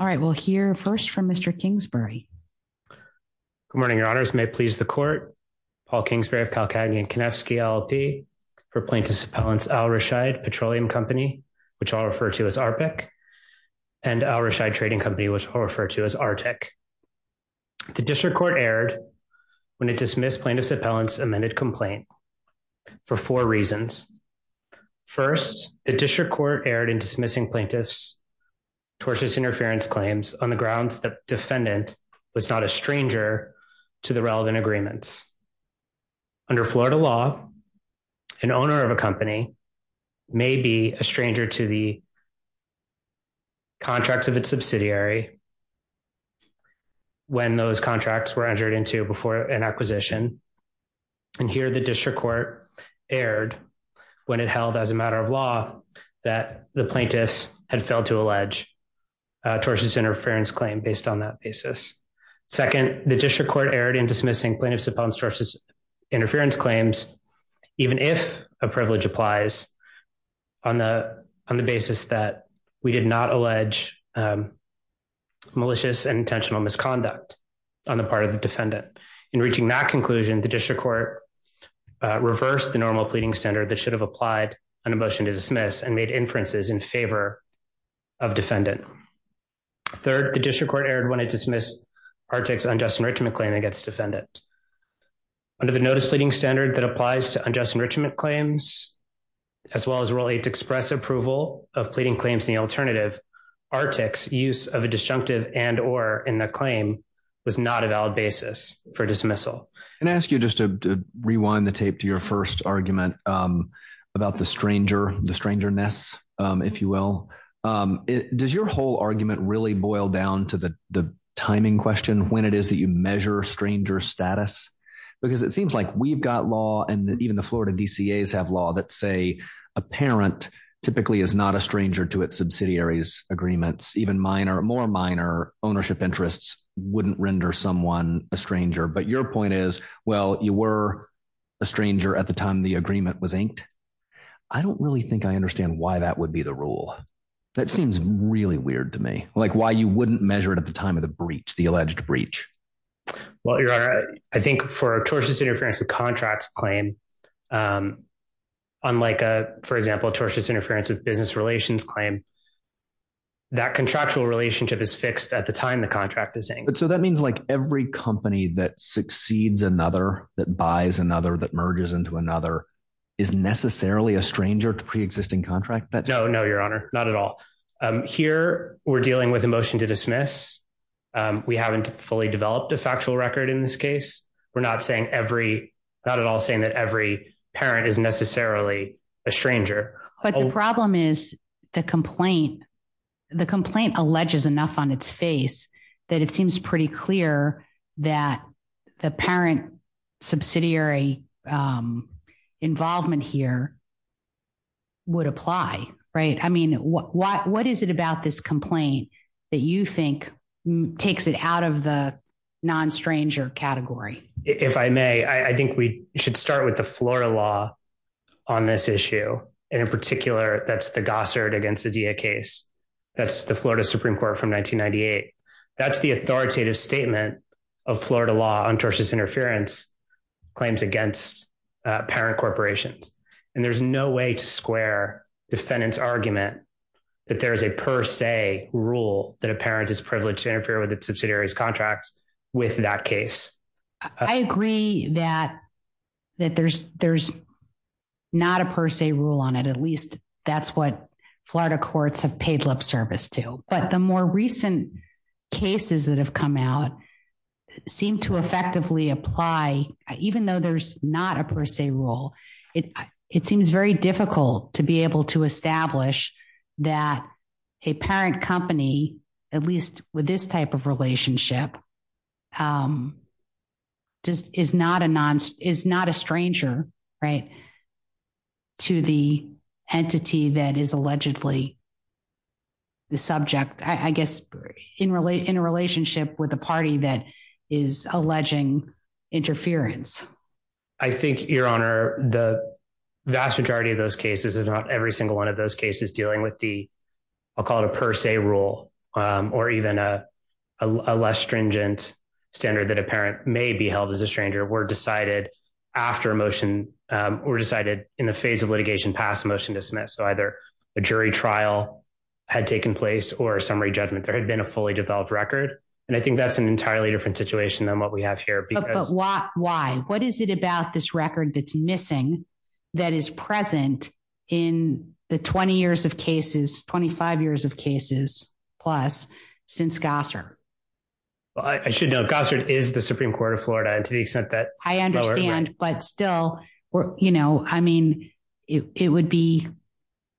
All right, we'll hear first from Mr. Kingsbury. Good morning, your honors. May it please the court, Paul Kingsbury of Calcagny and Konefsky LLP for Plaintiff's Appellant's Al Rushaid Petroleum Company, which I'll refer to as ARPIC, and Al Rushaid Trading Company, which I'll refer to as ARTIC. The district court erred when it dismissed plaintiff's defendant was not a stranger to the relevant agreements. Under Florida law, an owner of a company may be a stranger to the contracts of its subsidiary when those contracts were entered into before an acquisition. And here the district court erred when it held as a matter of law that the plaintiffs had failed to allege tortious interference claim based on that basis. Second, the district court erred in dismissing plaintiff's appellant's tortious interference claims, even if a privilege applies on the basis that we did not allege malicious and intentional misconduct on the part of the defendant. In reaching that conclusion, the district court reversed the normal pleading standard that should have applied on a motion to dismiss and made inferences in favor of defendant. Third, the district court erred when it dismissed ARTIC's unjust enrichment claim against defendant. Under the notice pleading standard that applies to unjust enrichment claims, as well as really to express approval of pleading claims in the alternative, ARTIC's use of a disjunctive and or in the claim was not a valid basis for dismissal. And ask you just to rewind the tape to your first argument about the stranger, the strangeness, if you will. Does your whole argument really boil down to the timing question when it is that you measure stranger status? Because it seems like we've got law and even the Florida DCAs have law that say a parent typically is not a stranger to its subsidiaries agreements, even minor, more minor ownership interests wouldn't render someone a stranger. But your point is, well, you were a stranger at the time the agreement was inked. I don't really think I understand why that would be the rule. That seems really weird to me, like why you wouldn't measure it at the time of the breach, the alleged breach. Well, your honor, I think for tortious interference with contracts claim, unlike, for example, tortious interference with business relations claim, that contractual relationship is fixed at the time the contract is saying, but so that means like every company that succeeds another that buys another that merges into another is necessarily a stranger to pre existing contract that no, no, your honor, not at all. Here, we're dealing with a motion to dismiss. We haven't fully developed a factual record in this case. We're not saying every not at all saying that every parent is necessarily a stranger, but the problem is the complaint. The complaint alleges enough on its face that it seems pretty clear that the parent subsidiary involvement here would apply. Right. I mean, what what what is it about this complaint that you think takes it out of the non stranger category. If I may, I think we should start with the Florida law on this issue. And in particular, that's the Gossard against the DA case. That's the Florida Supreme Court from 1998. That's the authoritative statement of Florida law on tortious interference claims against parent corporations. And there's no way to square defendants argument that there's a per se rule that a parent is privileged to interfere with its subsidiaries contracts. With that case, I agree that, that there's, there's not a per se rule on it at least that's what Florida courts have paid lip service to, but the more recent cases that have come out. Seem to effectively apply, even though there's not a per se rule, it, it seems very difficult to be able to establish that a parent company, at least with this type of relationship. Just is not a non is not a stranger, right, to the entity that is allegedly the subject, I guess, in really in a relationship with a party that is alleging interference. I think Your Honor, the vast majority of those cases is not every single one of those cases dealing with the, I'll call it a per se rule, or even a less stringent standard that a parent may be held as a stranger were decided after a motion were decided in the phase of litigation past motion to submit. So either a jury trial had taken place or summary judgment there had been a fully developed record. And I think that's an entirely different situation than what we have here because why, why, what is it about this record that's missing. That is present in the 20 years of cases 25 years of cases, plus since Gossard. I should know Gossard is the Supreme Court of Florida and to the extent that I understand, but still, you know, I mean, it would be,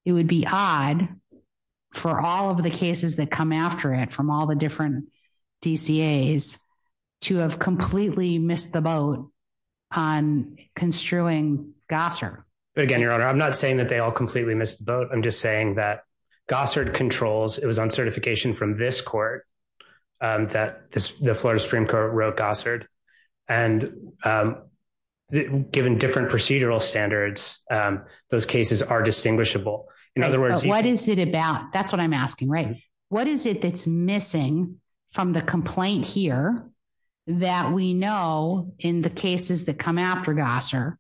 it would be odd for all of the cases that come after it from all the different DCA is to have completely missed the boat on construing Gossard. But again, Your Honor, I'm not saying that they all completely missed the boat. I'm just saying that Gossard controls it was on certification from this court that this, the Florida Supreme Court wrote Gossard, and given different procedural standards, those cases are distinguishable. In other words, what is it about that's what I'm asking, right, what is it that's missing from the complaint here that we know in the cases that come after Gossard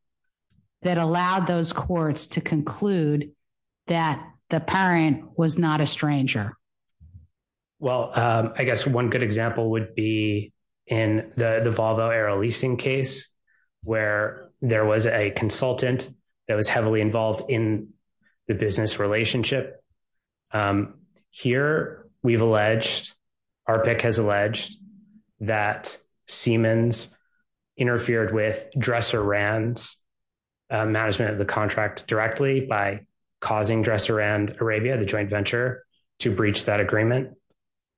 that allowed those courts to conclude that the parent was not a stranger. Well, I guess one good example would be in the Volvo era leasing case where there was a consultant that was heavily involved in the business relationship. Here, we've alleged our pick has alleged that Siemens interfered with dresser Rand's management of the contract directly by causing dresser and Arabia the joint venture to breach that agreement.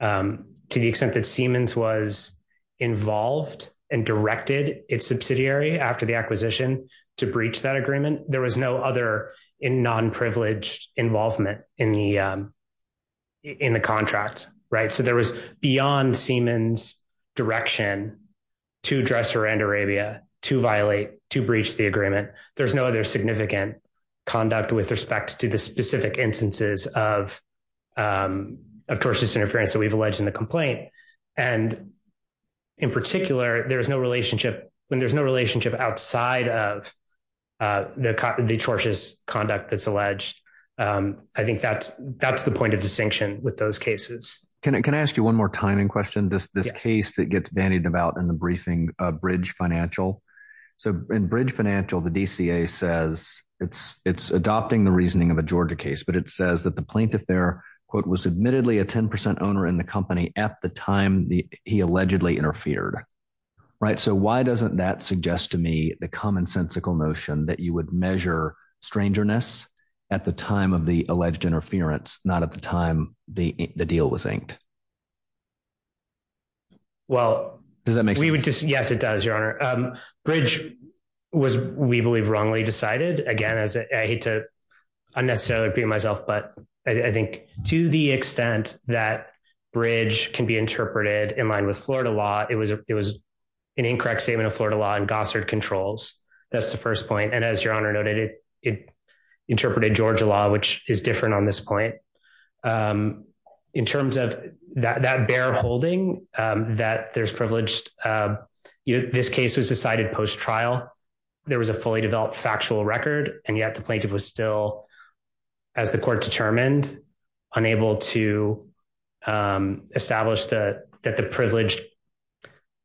To the extent that Siemens was involved and directed its subsidiary after the acquisition to breach that agreement, there was no other in non privileged involvement in the, in the contract, right so there was beyond Siemens direction to dresser and Arabia to violate to breach the agreement, there's no other significant conduct with respect to the specific instances of of torsion interference that we've alleged in the complaint. And in particular, there's no relationship when there's no relationship outside of the the torsion conduct that's alleged. I think that's, that's the point of distinction with those cases. Can I ask you one more time in question this this case that gets bandied about in the briefing bridge financial. So, in bridge financial the DCA says it's it's adopting the reasoning of a Georgia case but it says that the plaintiff there was admittedly a 10% owner in the company at the time the he allegedly interfered. Right. So why doesn't that suggest to me the commonsensical notion that you would measure strangeness at the time of the alleged interference, not at the time, the deal was inked. Well, does that make sense. Yes, it does your honor bridge was we believe wrongly decided again as I hate to unnecessarily be myself but I think to the extent that bridge can be interpreted in line with Florida law, it was, it was an incorrect statement of Florida law and Gossard controls. That's the first point and as your honor noted, it interpreted Georgia law which is different on this point. In terms of that bear holding that there's privileged. This case was decided post trial. There was a fully developed factual record, and yet the plaintiff was still as the court determined unable to establish the that the privilege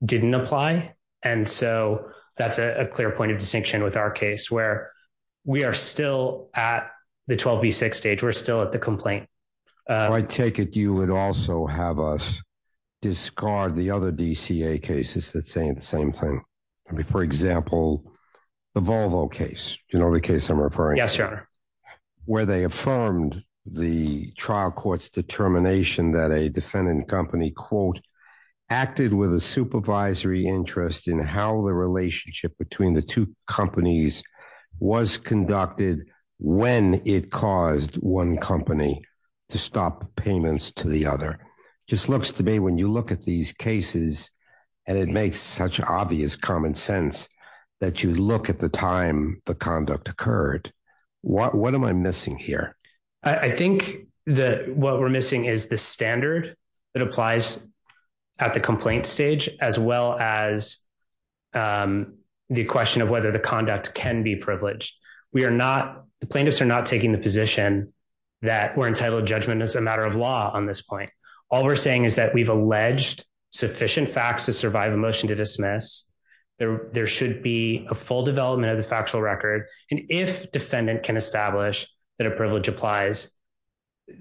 didn't apply. And so that's a clear point of distinction with our case where we are still at the 12 v six stage we're still at the complaint. I take it you would also have us discard the other DCA cases that saying the same thing. For example, the Volvo case, you know the case I'm referring. Yes, your honor, where they affirmed the trial courts determination that a defendant company quote acted with a supervisory interest in how the relationship between the two companies was conducted. When it caused one company to stop payments to the other. Just looks to me when you look at these cases, and it makes such obvious common sense that you look at the time, the conduct occurred. What am I missing here. I think that what we're missing is the standard that applies at the complaint stage, as well as the question of whether the conduct can be privileged. We are not the plaintiffs are not taking the position that we're entitled judgment as a matter of law on this point. All we're saying is that we've alleged sufficient facts to survive emotion to dismiss. There, there should be a full development of the factual record, and if defendant can establish that a privilege applies.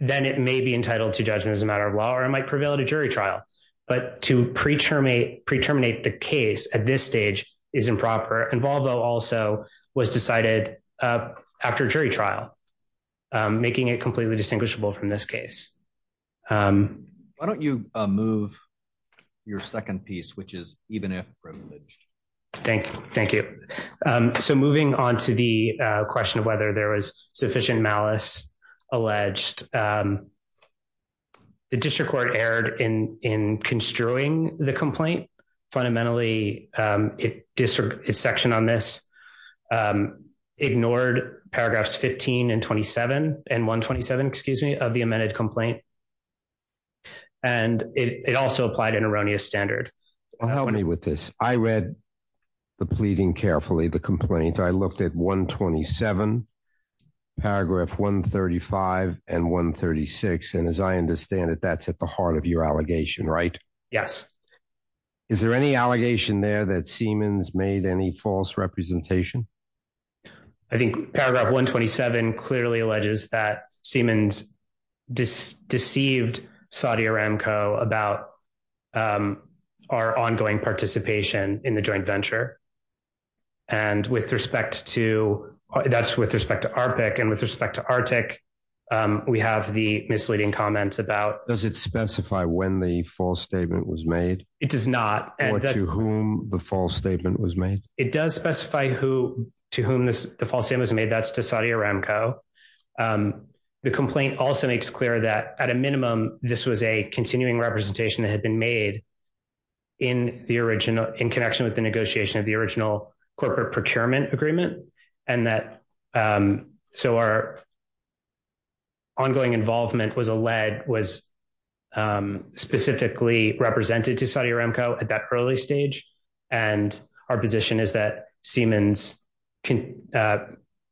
Then it may be entitled to judgment as a matter of law or it might prevail at a jury trial, but to pre term a pre terminate the case at this stage is improper and Volvo also was decided after jury trial, making it completely distinguishable from this case. Why don't you move your second piece which is, even if privileged. Thank you. Thank you. So moving on to the question of whether there was sufficient malice alleged. The district court erred in in construing the complaint. Fundamentally, it district section on this ignored paragraphs 15 and 27 and 127 excuse me of the amended complaint. And it also applied an erroneous standard. Help me with this, I read the pleading carefully the complaint I looked at 127 paragraph 135 and 136 and as I understand it that's at the heart of your allegation right. Yes. Is there any allegation there that Siemens made any false representation. I think paragraph 127 clearly alleges that Siemens dis deceived Saudi Aramco about our ongoing participation in the joint venture. And with respect to that's with respect to our pick and with respect to Arctic. We have the misleading comments about does it specify when the false statement was made, it does not, and that's whom the false statement was made, it does specify who to whom this the false it was made that's to Saudi Aramco. The complaint also makes clear that at a minimum, this was a continuing representation that had been made in the original in connection with the negotiation of the original corporate procurement agreement, and that. So our ongoing involvement was a lead was specifically represented to Saudi Aramco at that early stage, and our position is that Siemens can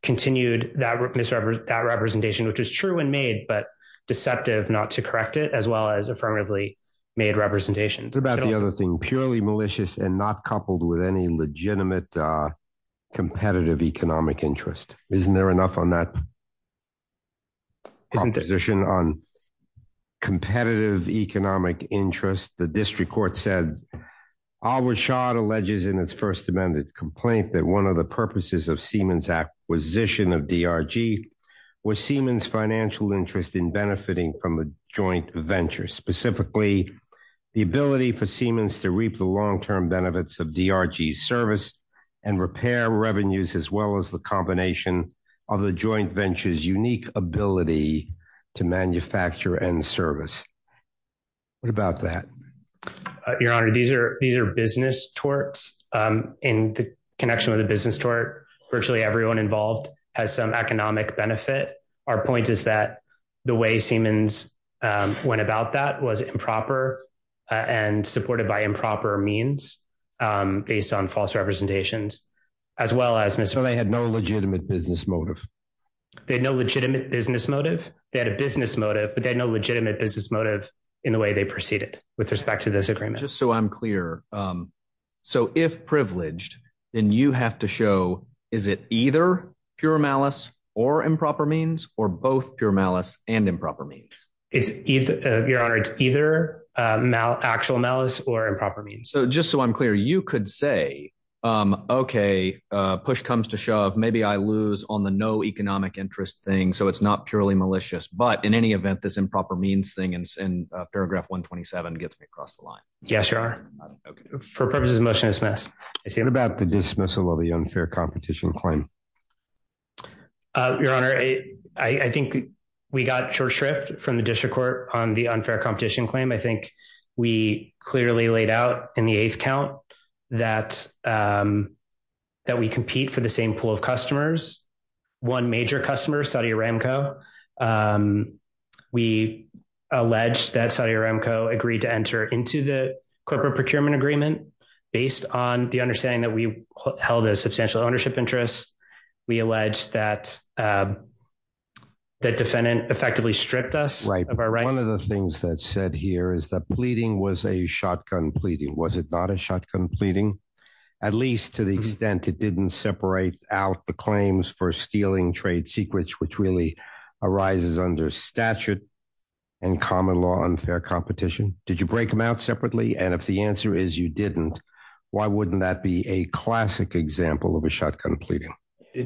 continued that misrepresent that representation which is true and made but deceptive not to correct it as well as affirmatively made representations about the other thing purely malicious and not coupled with any legitimate competitive economic interest, isn't there enough on that. Position on competitive economic interest the district court said our shot alleges in its First Amendment complaint that one of the purposes of Siemens acquisition of Dr. G was Siemens financial interest in benefiting from the joint venture specifically the ability for Siemens to reap the long term benefits of Dr. G service and repair revenues as well as the combination of the joint ventures unique ability to manufacture and service. What about that. Your Honor, these are these are business torts in connection with a business tour virtually everyone involved has some economic benefit. Our point is that the way Siemens went about that was improper and supported by improper means, based on false representations, as well as Mr they had no legitimate business motive. They had no legitimate business motive that a business motive, but they know legitimate business motive in the way they proceeded with respect to this agreement just so I'm clear. So if privileged, then you have to show, is it either pure malice or improper means, or both pure malice and improper means, it's either your honor it's either mal actual malice or improper means so just so I'm clear you could say. Okay, push comes to shove, maybe I lose on the no economic interest thing so it's not purely malicious but in any event this improper means thing and paragraph 127 gets me across the line. Yes, your honor. For purposes of motion dismiss. I see what about the dismissal of the unfair competition claim. Your Honor, I think we got short shrift from the district court on the unfair competition claim I think we clearly laid out in the eighth count that that we compete for the same pool of customers. One major customer Saudi Aramco. We allege that Saudi Aramco agreed to enter into the corporate procurement agreement, based on the understanding that we held a substantial ownership interests. We allege that that defendant effectively stripped us right of our right one of the things that said here is that pleading was a shotgun pleading was it not a shotgun pleading, at least to the extent it didn't separate out the claims for stealing trade secrets which really arises under statute and common law unfair competition, did you break them out separately and if the answer is you didn't. Why wouldn't that be a classic example of a shotgun pleading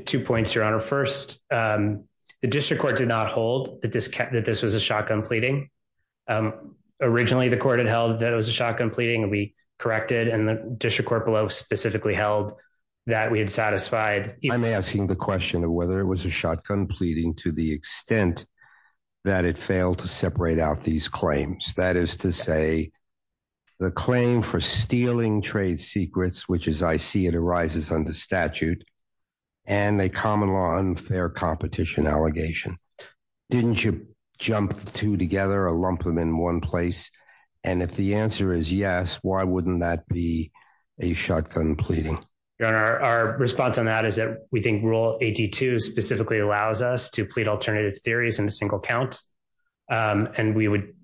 to points your honor first. The district court did not hold that this cat that this was a shotgun pleading. Originally the court had held that it was a shotgun pleading we corrected and the district court below specifically held that we had satisfied, I'm asking the question of whether it was a shotgun pleading to the extent that it failed to separate out these claims, that is to say, the claim for stealing trade secrets which is I see it arises under statute, and a common law unfair competition allegation. Didn't you jump to together a lump them in one place. And if the answer is yes, why wouldn't that be a shotgun pleading. Our response on that is that we think rule at to specifically allows us to plead alternative theories in a single count. And we would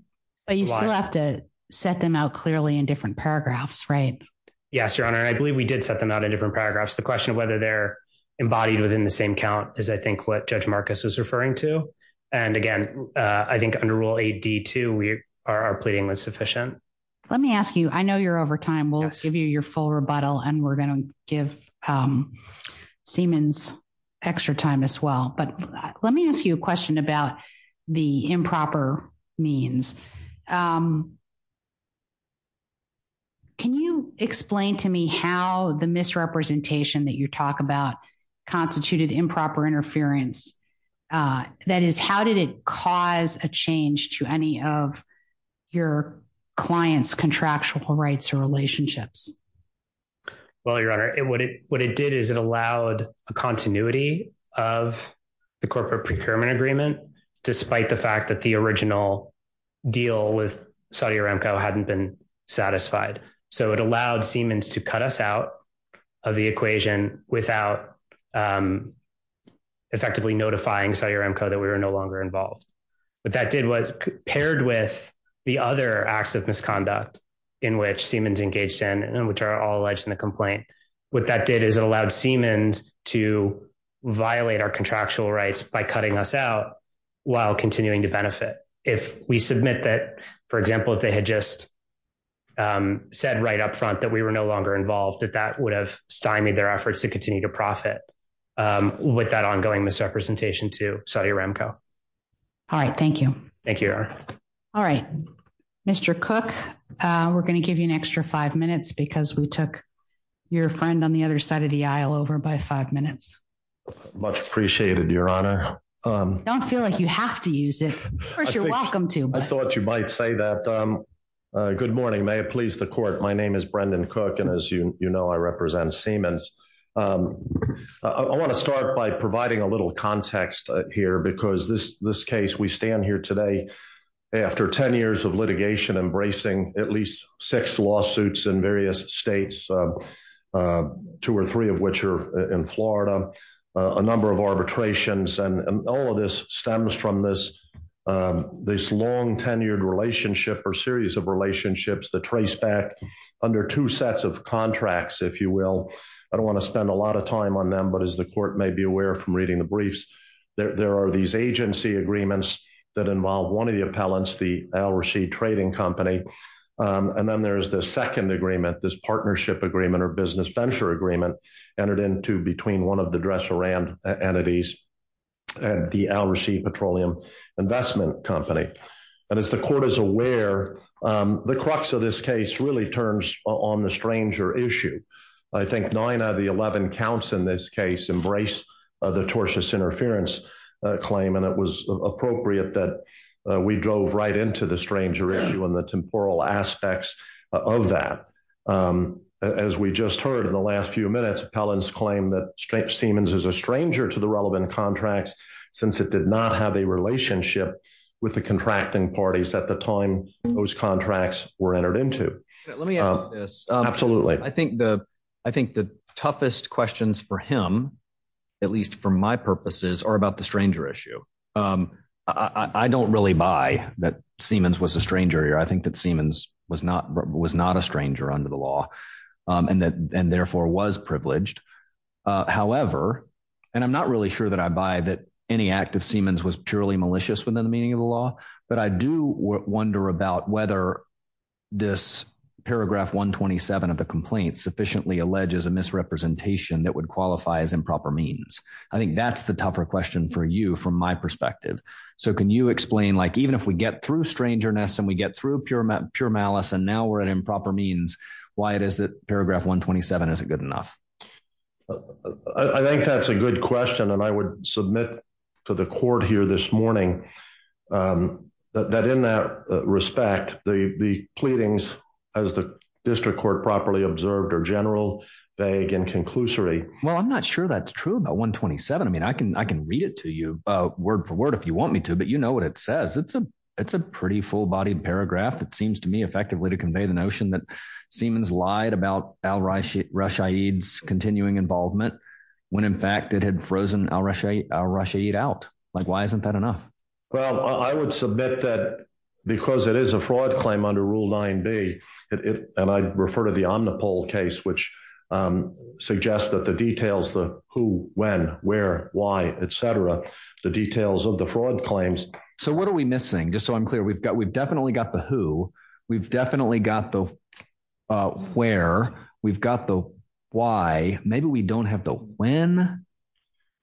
still have to set them out clearly in different paragraphs right. Yes, your honor I believe we did set them out in different paragraphs the question of whether they're embodied within the same count is I think what Judge Marcus was referring to. And again, I think under rule at to we are pleading was sufficient. Let me ask you I know you're over time will give you your full rebuttal and we're going to give Siemens extra time as well but let me ask you a question about the improper means. Can you explain to me how the misrepresentation that you talk about constituted improper interference. That is how did it cause a change to any of your clients contractual rights or relationships. Well, your honor it what it what it did is it allowed a continuity of the corporate procurement agreement, despite the fact that the original deal with Saudi Aramco hadn't been satisfied. So it allowed Siemens to cut us out of the equation, without effectively notifying Saudi Aramco that we were no longer involved, but that did was paired with the other acts of misconduct in which Siemens engaged in and which are all alleged in the complaint. What that did is it allowed Siemens to violate our contractual rights by cutting us out while continuing to benefit. If we submit that, for example, if they had just said right up front that we were no longer involved that that would have stymied their efforts to continue to profit with that ongoing misrepresentation to Saudi Aramco. All right, thank you. Thank you. All right. Mr. Cook. We're going to give you an extra five minutes because we took your friend on the other side of the aisle over by five minutes. Much appreciated your honor. Don't feel like you have to use it. You're welcome to I thought you might say that. Good morning may please the court. My name is Brendan cook and as you know I represent Siemens. I want to start by providing a little context here because this this case we stand here today. After 10 years of litigation embracing at least six lawsuits in various states, two or three of which are in Florida, a number of arbitrations and all of this stems from this. This long tenured relationship or series of relationships the trace back under two sets of contracts, if you will. I don't want to spend a lot of time on them, but as the court may be aware from reading the briefs, there are these agency agreements that involve one of the appellants the Al Rishi trading company. And then there's the second agreement this partnership agreement or business venture agreement entered into between one of the dresser and entities and the Al Rishi petroleum investment company. And as the court is aware, the crux of this case really turns on the stranger issue. I think nine out of the 11 counts in this case embrace the tortious interference claim and it was appropriate that we drove right into the stranger issue and the temporal aspects of that. As we just heard in the last few minutes appellants claim that straight Siemens is a stranger to the relevant contracts, since it did not have a relationship with the contracting parties at the time, those contracts were entered into. Let me ask this. Absolutely. I think the toughest questions for him, at least for my purposes, are about the stranger issue. I don't really buy that Siemens was a stranger here. I think that Siemens was not a stranger under the law and therefore was privileged. However, and I'm not really sure that I buy that any act of Siemens was purely malicious within the meaning of the law. But I do wonder about whether this paragraph 127 of the complaint sufficiently alleges a misrepresentation that would qualify as improper means. I think that's the tougher question for you from my perspective. So can you explain, like, even if we get through strangeness and we get through pure pure malice and now we're at improper means, why it is that paragraph 127 isn't good enough? I think that's a good question. And I would submit to the court here this morning that in that respect, the pleadings, as the district court properly observed, are general, vague and conclusory. Well, I'm not sure that's true about 127. I mean, I can I can read it to you word for word if you want me to. But you know what it says. It's a it's a pretty full bodied paragraph. It seems to me effectively to convey the notion that Siemens lied about Al-Rashid's continuing involvement when, in fact, it had frozen Al-Rashid out. Like, why isn't that enough? Well, I would submit that because it is a fraud claim under Rule 9B, and I refer to the Omnipole case, which suggests that the details, the who, when, where, why, et cetera, the details of the fraud claims. So what are we missing? Just so I'm clear, we've got we've definitely got the who. We've definitely got the where. We've got the why. Maybe we don't have the when.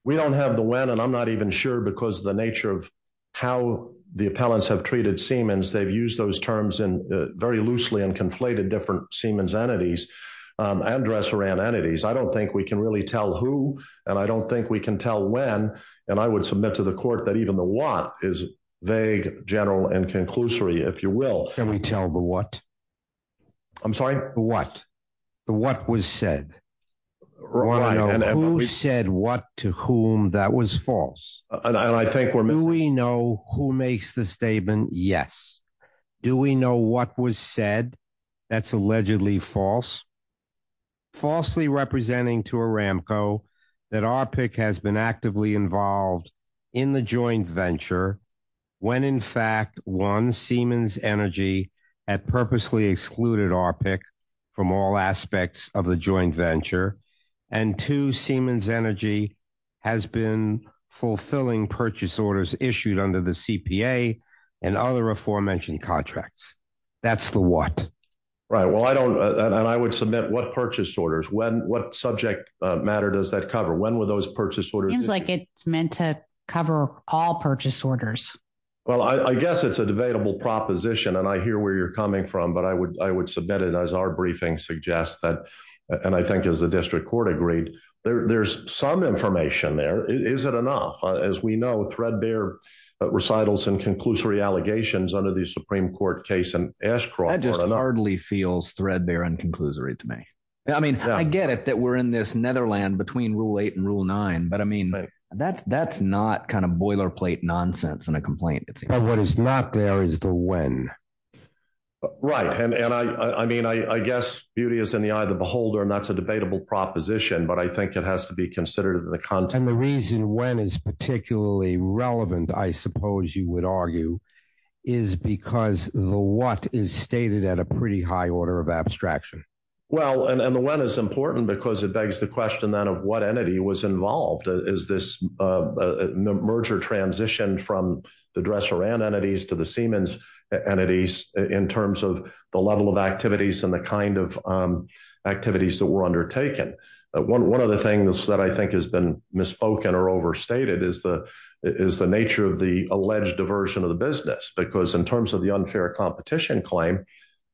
We don't have the when, and I'm not even sure because the nature of how the appellants have treated Siemens, they've used those terms in very loosely and conflated different Siemens entities and dresser and entities. I don't think we can really tell who and I don't think we can tell when. And I would submit to the court that even the what is vague, general and conclusory, if you will. Can we tell the what? I'm sorry. The what? The what was said? Who said what to whom? That was false. And I think we're missing. Do we know who makes the statement? Yes. Do we know what was said? That's allegedly false. Falsely representing to Aramco that our pick has been actively involved in the joint venture when, in fact, one Siemens Energy had purposely excluded our pick from all aspects of the joint venture. And to Siemens Energy has been fulfilling purchase orders issued under the CPA and other aforementioned contracts. That's the what? Right. Well, I don't and I would submit what purchase orders when what subject matter does that cover? When were those purchase orders? Seems like it's meant to cover all purchase orders. Well, I guess it's a debatable proposition, and I hear where you're coming from. But I would I would submit it as our briefing suggests that. And I think as the district court agreed, there's some information there. Is it enough? As we know, threadbare recitals and conclusory allegations under the Supreme Court case and Ashcroft just hardly feels threadbare and conclusory to me. I mean, I get it that we're in this netherland between rule eight and rule nine. But I mean, that's that's not kind of boilerplate nonsense and a complaint. It's what is not there is the when. Right. And I mean, I guess beauty is in the eye of the beholder, and that's a debatable proposition. But I think it has to be considered in the context. And the reason when is particularly relevant, I suppose you would argue, is because the what is stated at a pretty high order of abstraction. Well, and the when is important because it begs the question, then, of what entity was involved. Is this a merger transition from the dresser and entities to the Siemens entities in terms of the level of activities and the kind of activities that were undertaken? One of the things that I think has been misspoken or overstated is the is the nature of the alleged diversion of the business, because in terms of the unfair competition claim,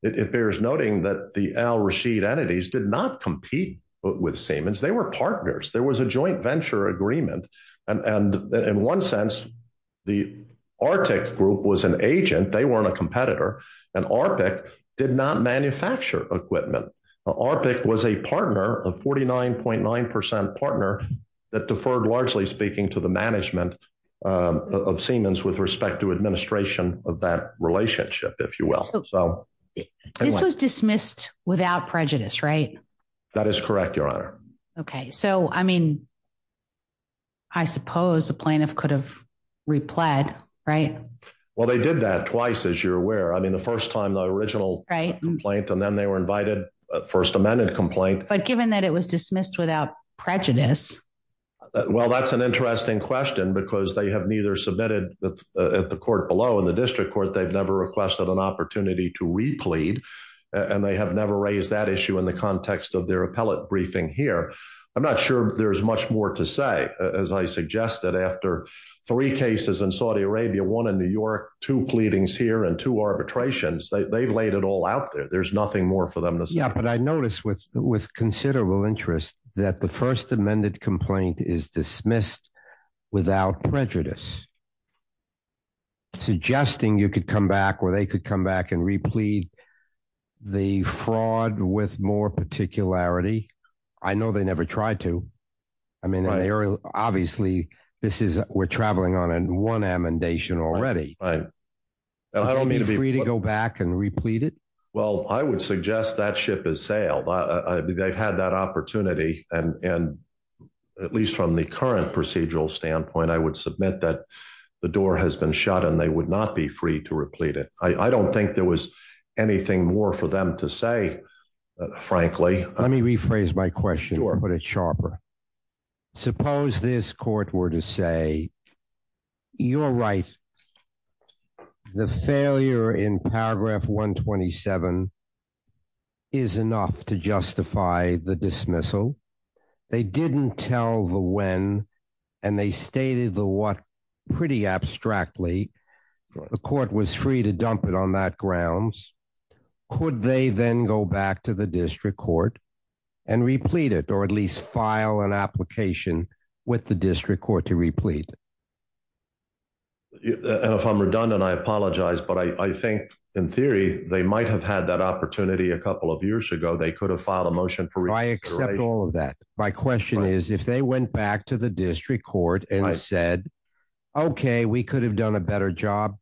it bears noting that the Al Rashid entities did not compete with Siemens. They were partners. There was a joint venture agreement. And in one sense, the Arctic Group was an agent. They weren't a competitor. And Arctic did not manufacture equipment. Arctic was a partner of forty nine point nine percent partner that deferred, largely speaking to the management of Siemens with respect to administration of that relationship, if you will. So this was dismissed without prejudice, right? That is correct. Your honor. OK, so, I mean. I suppose the plaintiff could have replied, right? Well, they did that twice, as you're aware. I mean, the first time the original complaint and then they were invited. First Amendment complaint. But given that it was dismissed without prejudice. Well, that's an interesting question because they have neither submitted at the court below in the district court. They've never requested an opportunity to replead and they have never raised that issue in the context of their appellate briefing here. I'm not sure there's much more to say. As I suggested, after three cases in Saudi Arabia, one in New York, two pleadings here and two arbitrations, they've laid it all out there. There's nothing more for them to say. Yeah, but I noticed with with considerable interest that the first amended complaint is dismissed without prejudice. Suggesting you could come back or they could come back and replead the fraud with more particularity. I know they never tried to. I mean, obviously, this is we're traveling on in one amendation already. I don't mean to be free to go back and replete it. Well, I would suggest that ship is sailed. I mean, they've had that opportunity. And at least from the current procedural standpoint, I would submit that the door has been shut and they would not be free to replete it. I don't think there was anything more for them to say, frankly. Let me rephrase my question or put it sharper. Suppose this court were to say, you're right. The failure in Paragraph 127. Is enough to justify the dismissal. They didn't tell the when and they stated the what pretty abstractly. The court was free to dump it on that grounds. Could they then go back to the district court and replete it or at least file an application with the district court to replete? And if I'm redundant, I apologize, but I think in theory they might have had that opportunity a couple of years ago. They could have filed a motion for. I accept all of that. My question is, if they went back to the district court and I said, OK, we could have done a better job.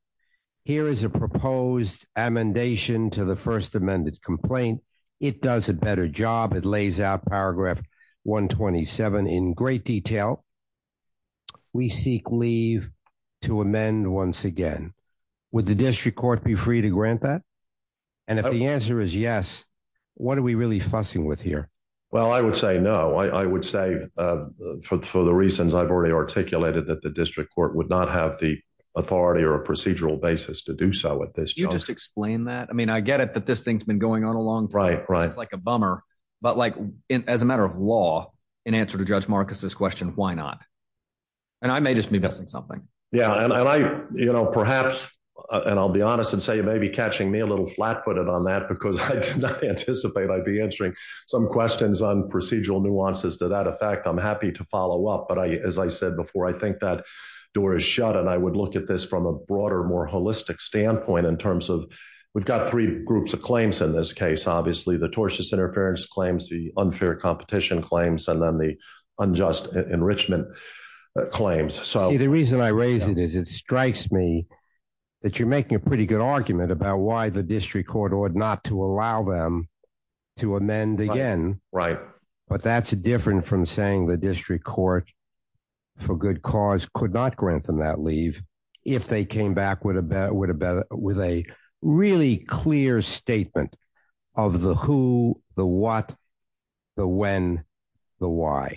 Here is a proposed amendation to the first amended complaint. It does a better job. It lays out Paragraph 127 in great detail. We seek leave to amend once again with the district court, be free to grant that. And if the answer is yes, what are we really fussing with here? Well, I would say no. I would say for the reasons I've already articulated that the district court would not have the authority or a procedural basis to do so at this. You just explain that. I mean, I get it that this thing's been going on a long time. Right. Right. Like a bummer. But like as a matter of law, in answer to Judge Marcus's question, why not? And I may just be missing something. Yeah. And I, you know, perhaps and I'll be honest and say maybe catching me a little flat footed on that because I did not anticipate I'd be answering some questions. On procedural nuances to that effect, I'm happy to follow up. But as I said before, I think that door is shut. And I would look at this from a broader, more holistic standpoint in terms of we've got three groups of claims in this case. Obviously, the tortious interference claims, the unfair competition claims, and then the unjust enrichment claims. So the reason I raise it is it strikes me that you're making a pretty good argument about why the district court ought not to allow them to amend again. Right. But that's different from saying the district court for good cause could not grant them that leave if they came back with a with a with a really clear statement of the who, the what, the when, the why.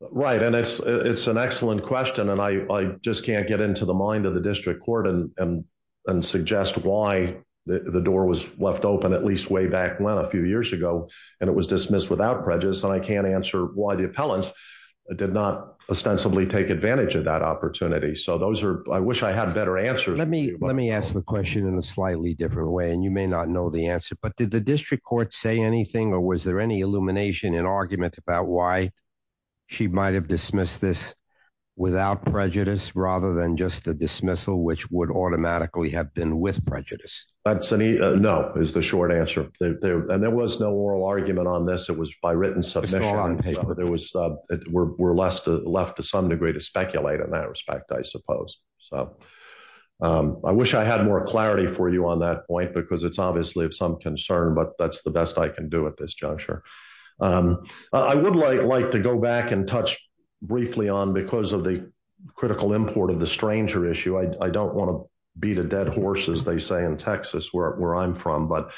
Right. And it's it's an excellent question. And I just can't get into the mind of the district court and suggest why the door was left open, at least way back when a few years ago. And it was dismissed without prejudice. And I can't answer why the appellant did not ostensibly take advantage of that opportunity. So those are I wish I had a better answer. Let me let me ask the question in a slightly different way. And you may not know the answer. But did the district court say anything or was there any illumination in argument about why she might have dismissed this without prejudice rather than just a dismissal, which would automatically have been with prejudice? That's no is the short answer. And there was no oral argument on this. It was by written submission. There was we're left to left to some degree to speculate in that respect, I suppose. So I wish I had more clarity for you on that point, because it's obviously of some concern. But that's the best I can do at this juncture. I would like to go back and touch briefly on because of the critical import of the stranger issue. I don't want to beat a dead horse, as they say in Texas, where I'm from. But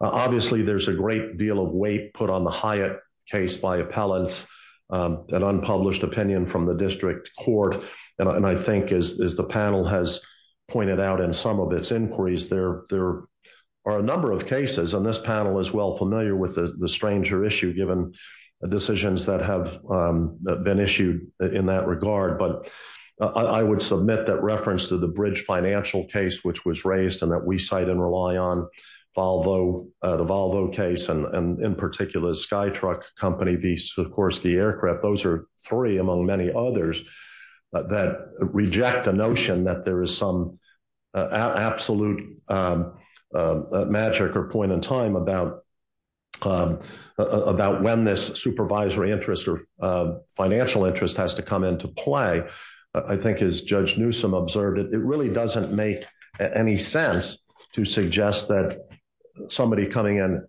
obviously, there's a great deal of weight put on the Hyatt case by appellants, an unpublished opinion from the district court. And I think as the panel has pointed out in some of its inquiries, there are a number of cases on this panel as well familiar with the stranger issue, given the decisions that have been issued in that regard. But I would submit that reference to the bridge financial case, which was raised and that we cite and rely on Volvo, the Volvo case, and in particular, the Skytruck company, the Sikorsky aircraft. Those are three among many others that reject the notion that there is some absolute magic or point in time about when this supervisory interest or financial interest has to come into play. I think as Judge Newsom observed, it really doesn't make any sense to suggest that somebody coming in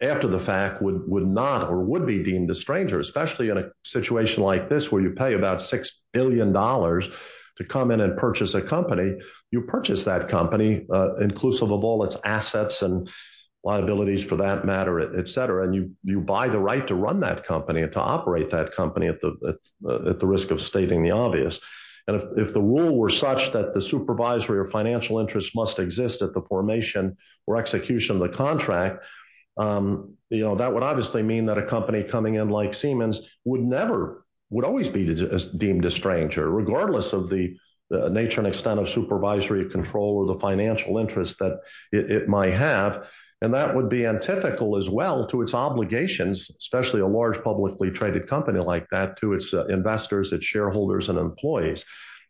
after the fact would not or would be deemed a stranger, especially in a situation like this where you pay about $6 billion to come in and purchase a company. You purchase that company, inclusive of all its assets and liabilities for that matter, et cetera, and you buy the right to run that company and to operate that company at the risk of stating the obvious. If the rule were such that the supervisory or financial interest must exist at the formation or execution of the contract, that would obviously mean that a company coming in like Siemens would always be deemed a stranger, regardless of the nature and extent of supervisory control or the financial interest that it might have. That would be untypical as well to its obligations, especially a large publicly traded company like that, to its investors, its shareholders, and employees.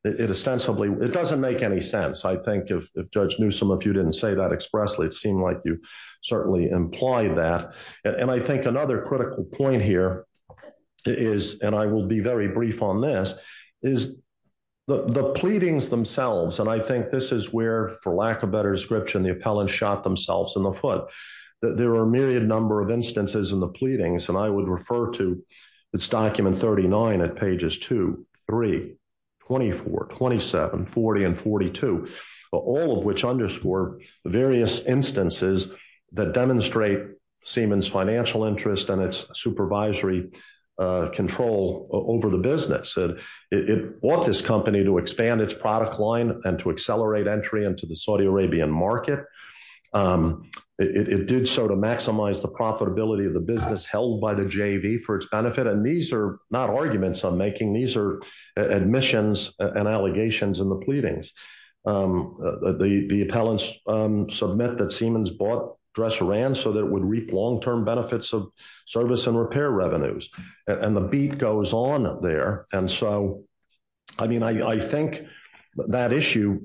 It doesn't make any sense. I think if Judge Newsom, if you didn't say that expressly, it seemed like you certainly implied that. I think another critical point here is, and I will be very brief on this, is the pleadings themselves. I think this is where, for lack of better description, the appellant shot themselves in the foot. There are a myriad number of instances in the pleadings, and I would refer to this document 39 at pages 2, 3, 24, 27, 40, and 42, all of which underscore various instances that demonstrate Siemens financial interest and its supervisory control over the business. It want this company to expand its product line and to accelerate entry into the Saudi Arabian market. It did so to maximize the profitability of the business held by the JV for its benefit, and these are not arguments I'm making. These are admissions and allegations in the pleadings. The appellants submit that Siemens bought Dressaran so that it would reap long-term benefits of service and repair revenues, and the beat goes on there. I think that issue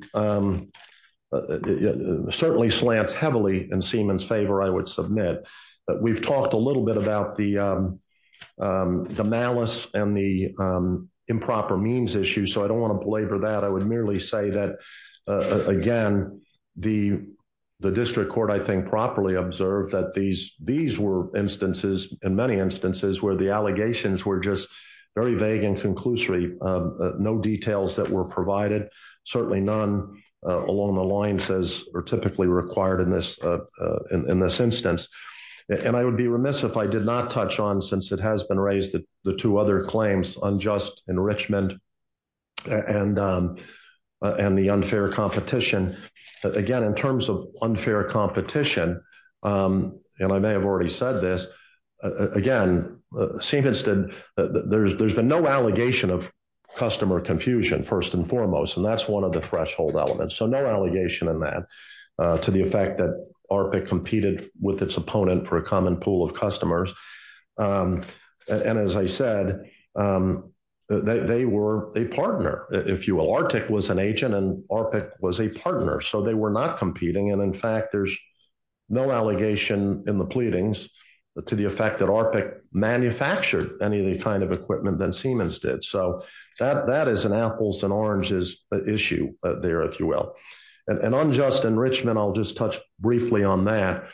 certainly slants heavily in Siemens' favor, I would submit. We've talked a little bit about the malice and the improper means issue, so I don't want to belabor that. I would merely say that, again, the district court, I think, properly observed that these were instances, in many instances, where the allegations were just very vague and conclusory, no details that were provided, certainly none along the lines as are typically required in this instance. I would be remiss if I did not touch on, since it has been raised, the two other claims, unjust enrichment and the unfair competition. Again, in terms of unfair competition, and I may have already said this, again, Siemens, there's been no allegation of customer confusion, first and foremost, and that's one of the threshold elements. So no allegation in that, to the effect that ARPIC competed with its opponent for a common pool of customers, and as I said, they were a partner, if you will. ARPIC was an agent and ARPIC was a partner, so they were not competing, and in fact, there's no allegation in the pleadings to the effect that ARPIC manufactured any of the kind of equipment that Siemens did. So that is an apples and oranges issue there, if you will. And unjust enrichment, I'll just touch briefly on that,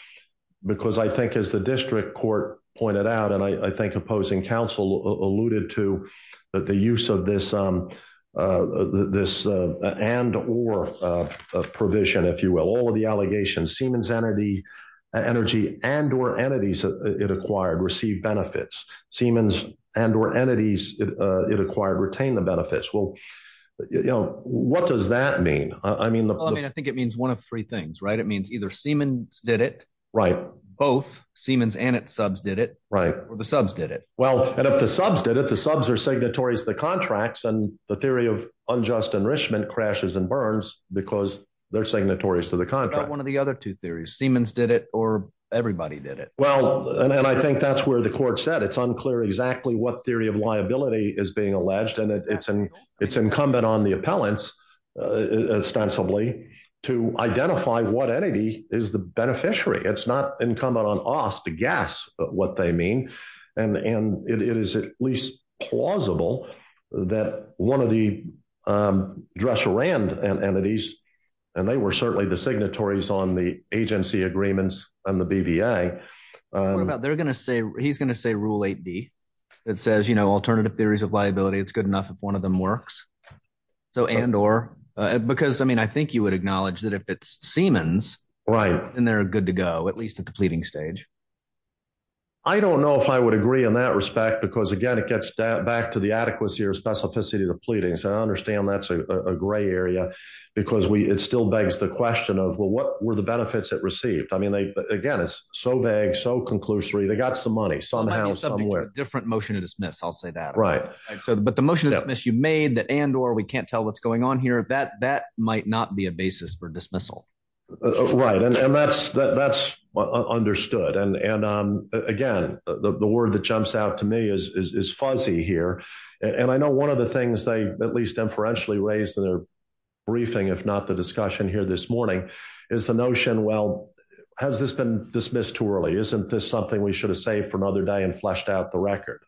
because I think as the district court pointed out, and I think opposing counsel alluded to, that the use of this and or provision, if you will, all of the allegations, Siemens Energy and or entities it acquired received benefits. Siemens and or entities it acquired retained the benefits. Well, you know, what does that mean? I mean, I think it means one of three things, right? It means either Siemens did it. Both Siemens and its subs did it. Or the subs did it. Well, and if the subs did it, the subs are signatories to the contracts, and the theory of unjust enrichment crashes and burns because they're signatories to the contract. What about one of the other two theories, Siemens did it or everybody did it? Well, and I think that's where the court said it's unclear exactly what theory of liability is being alleged. And it's incumbent on the appellants, ostensibly, to identify what entity is the beneficiary. It's not incumbent on us to guess what they mean. And it is at least plausible that one of the dresser and entities, and they were certainly the signatories on the agency agreements on the BBA. What about they're going to say he's going to say rule eight D. It says, you know, alternative theories of liability, it's good enough if one of them works. So and or, because I mean, I think you would acknowledge that if it's Siemens, right, and they're good to go, at least at the pleading stage. I don't know if I would agree in that respect, because, again, it gets back to the adequacy or specificity of the pleadings. I understand that's a gray area because we it still begs the question of, well, what were the benefits that received? I mean, again, it's so vague, so conclusory. They got some money somehow somewhere. Different motion to dismiss. I'll say that. Right. So but the motion that you made that and or we can't tell what's going on here, that that might not be a basis for dismissal. Right. And that's that's understood. And again, the word that jumps out to me is fuzzy here. And I know one of the things they at least inferentially raised in their briefing, if not the discussion here this morning, is the notion. Well, has this been dismissed too early? Isn't this something we should have saved for another day and fleshed out the record?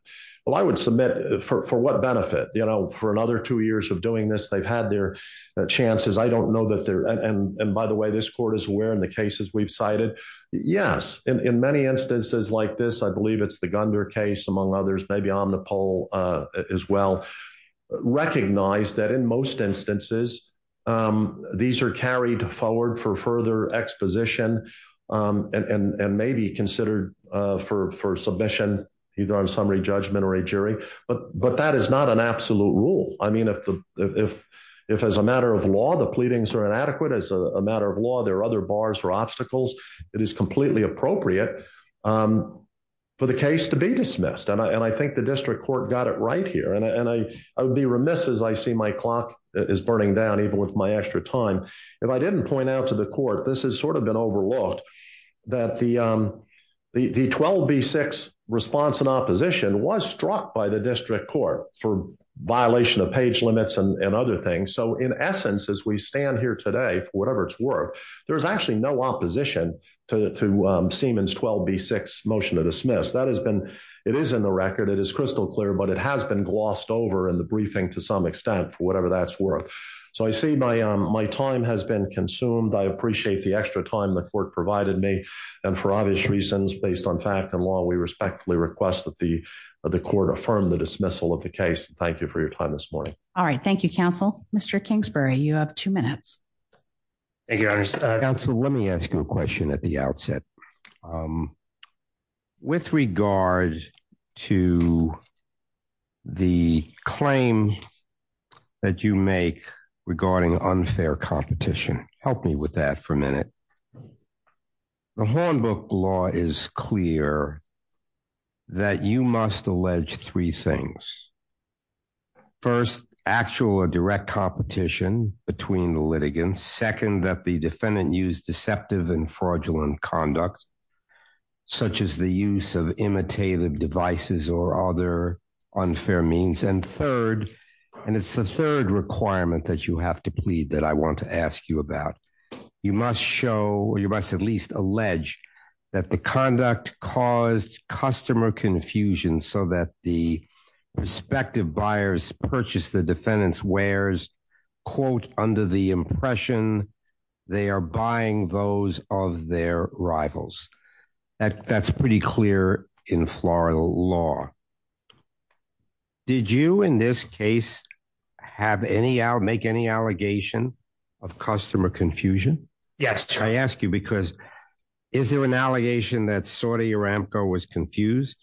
Well, I would submit for what benefit? You know, for another two years of doing this, they've had their chances. I don't know that there. And by the way, this court is aware in the cases we've cited. Yes. In many instances like this, I believe it's the Gunder case, among others, maybe on the poll as well. Recognize that in most instances, these are carried forward for further exposition and maybe considered for first submission, either on summary judgment or a jury. But that is not an absolute rule. I mean, if if if as a matter of law, the pleadings are inadequate as a matter of law, there are other bars or obstacles. It is completely appropriate for the case to be dismissed. And I think the district court got it right here. And I would be remiss as I see my clock is burning down, even with my extra time. If I didn't point out to the court, this has sort of been overlooked that the the twelve B-6 response in opposition was struck by the district court for violation of page limits and other things. So in essence, as we stand here today, whatever it's worth, there is actually no opposition to Seaman's twelve B-6 motion to dismiss. That has been it is in the record. It is crystal clear, but it has been glossed over in the briefing to some extent, whatever that's worth. So I see my my time has been consumed. I appreciate the extra time the court provided me. And for obvious reasons, based on fact and law, we respectfully request that the the court affirm the dismissal of the case. Thank you for your time this morning. All right. Thank you, counsel. Mr. Kingsbury, you have two minutes. So let me ask you a question at the outset. With regard to the claim that you make regarding unfair competition, help me with that for a minute. The Hornbook law is clear. That you must allege three things. First, actual or direct competition between the litigants, second, that the defendant used deceptive and fraudulent conduct, such as the use of imitative devices or other unfair means. And third, and it's the third requirement that you have to plead that I want to ask you about. You must show or you must at least allege that the conduct caused customer confusion so that the respective buyers purchase the defendant's wares, quote, under the impression they are buying those of their rivals. That's pretty clear in Florida law. Did you in this case have any make any allegation of customer confusion? Yes. I ask you, because is there an allegation that Saudi Aramco was confused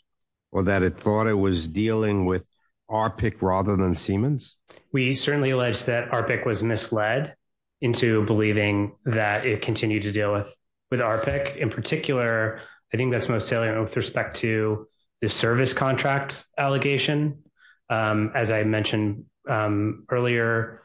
or that it thought it was dealing with our pick rather than Siemens? We certainly allege that our pick was misled into believing that it continued to deal with with our pick. In particular, I think that's most salient with respect to the service contracts allegation. As I mentioned earlier,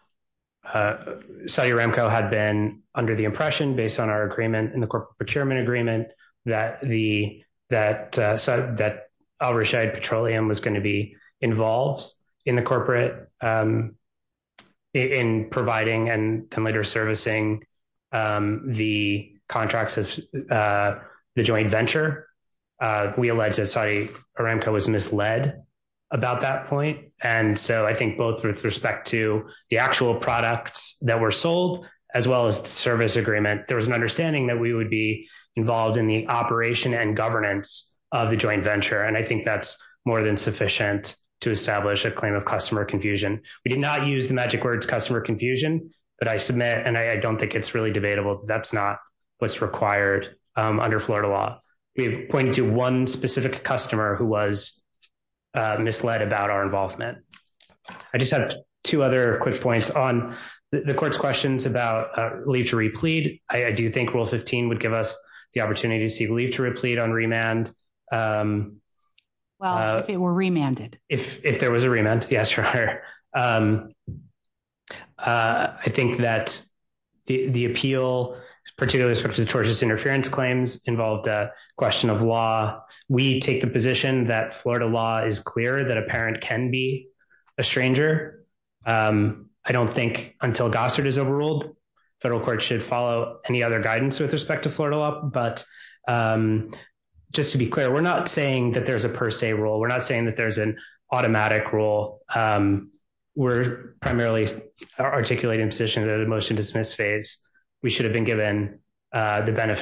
Saudi Aramco had been under the impression, based on our agreement in the corporate procurement agreement, that the that that Al Rashid Petroleum was going to be involved in the corporate in providing and later servicing the contracts of the joint venture. We allege that Saudi Aramco was misled about that point. And so I think both with respect to the actual products that were sold, as well as the service agreement, there was an understanding that we would be involved in the operation and governance of the joint venture. And I think that's more than sufficient to establish a claim of customer confusion. We did not use the magic words customer confusion, but I submit and I don't think it's really debatable. That's not what's required under Florida law. We point to one specific customer who was misled about our involvement. I just have two other quick points on the court's questions about leave to replead. I do think Rule 15 would give us the opportunity to see leave to replead on remand. Well, if it were remanded. If there was a remand, yes, sure. I think that the appeal, particularly with respect to tortious interference claims involved a question of law, we take the position that Florida law is clear that a parent can be a stranger. I don't think until Gossard is overruled, federal court should follow any other guidance with respect to Florida law. But just to be clear, we're not saying that there's a per se rule. We're not saying that there's an automatic rule. We're primarily articulating position that emotion dismiss phase. We should have been given the benefit of the doubt.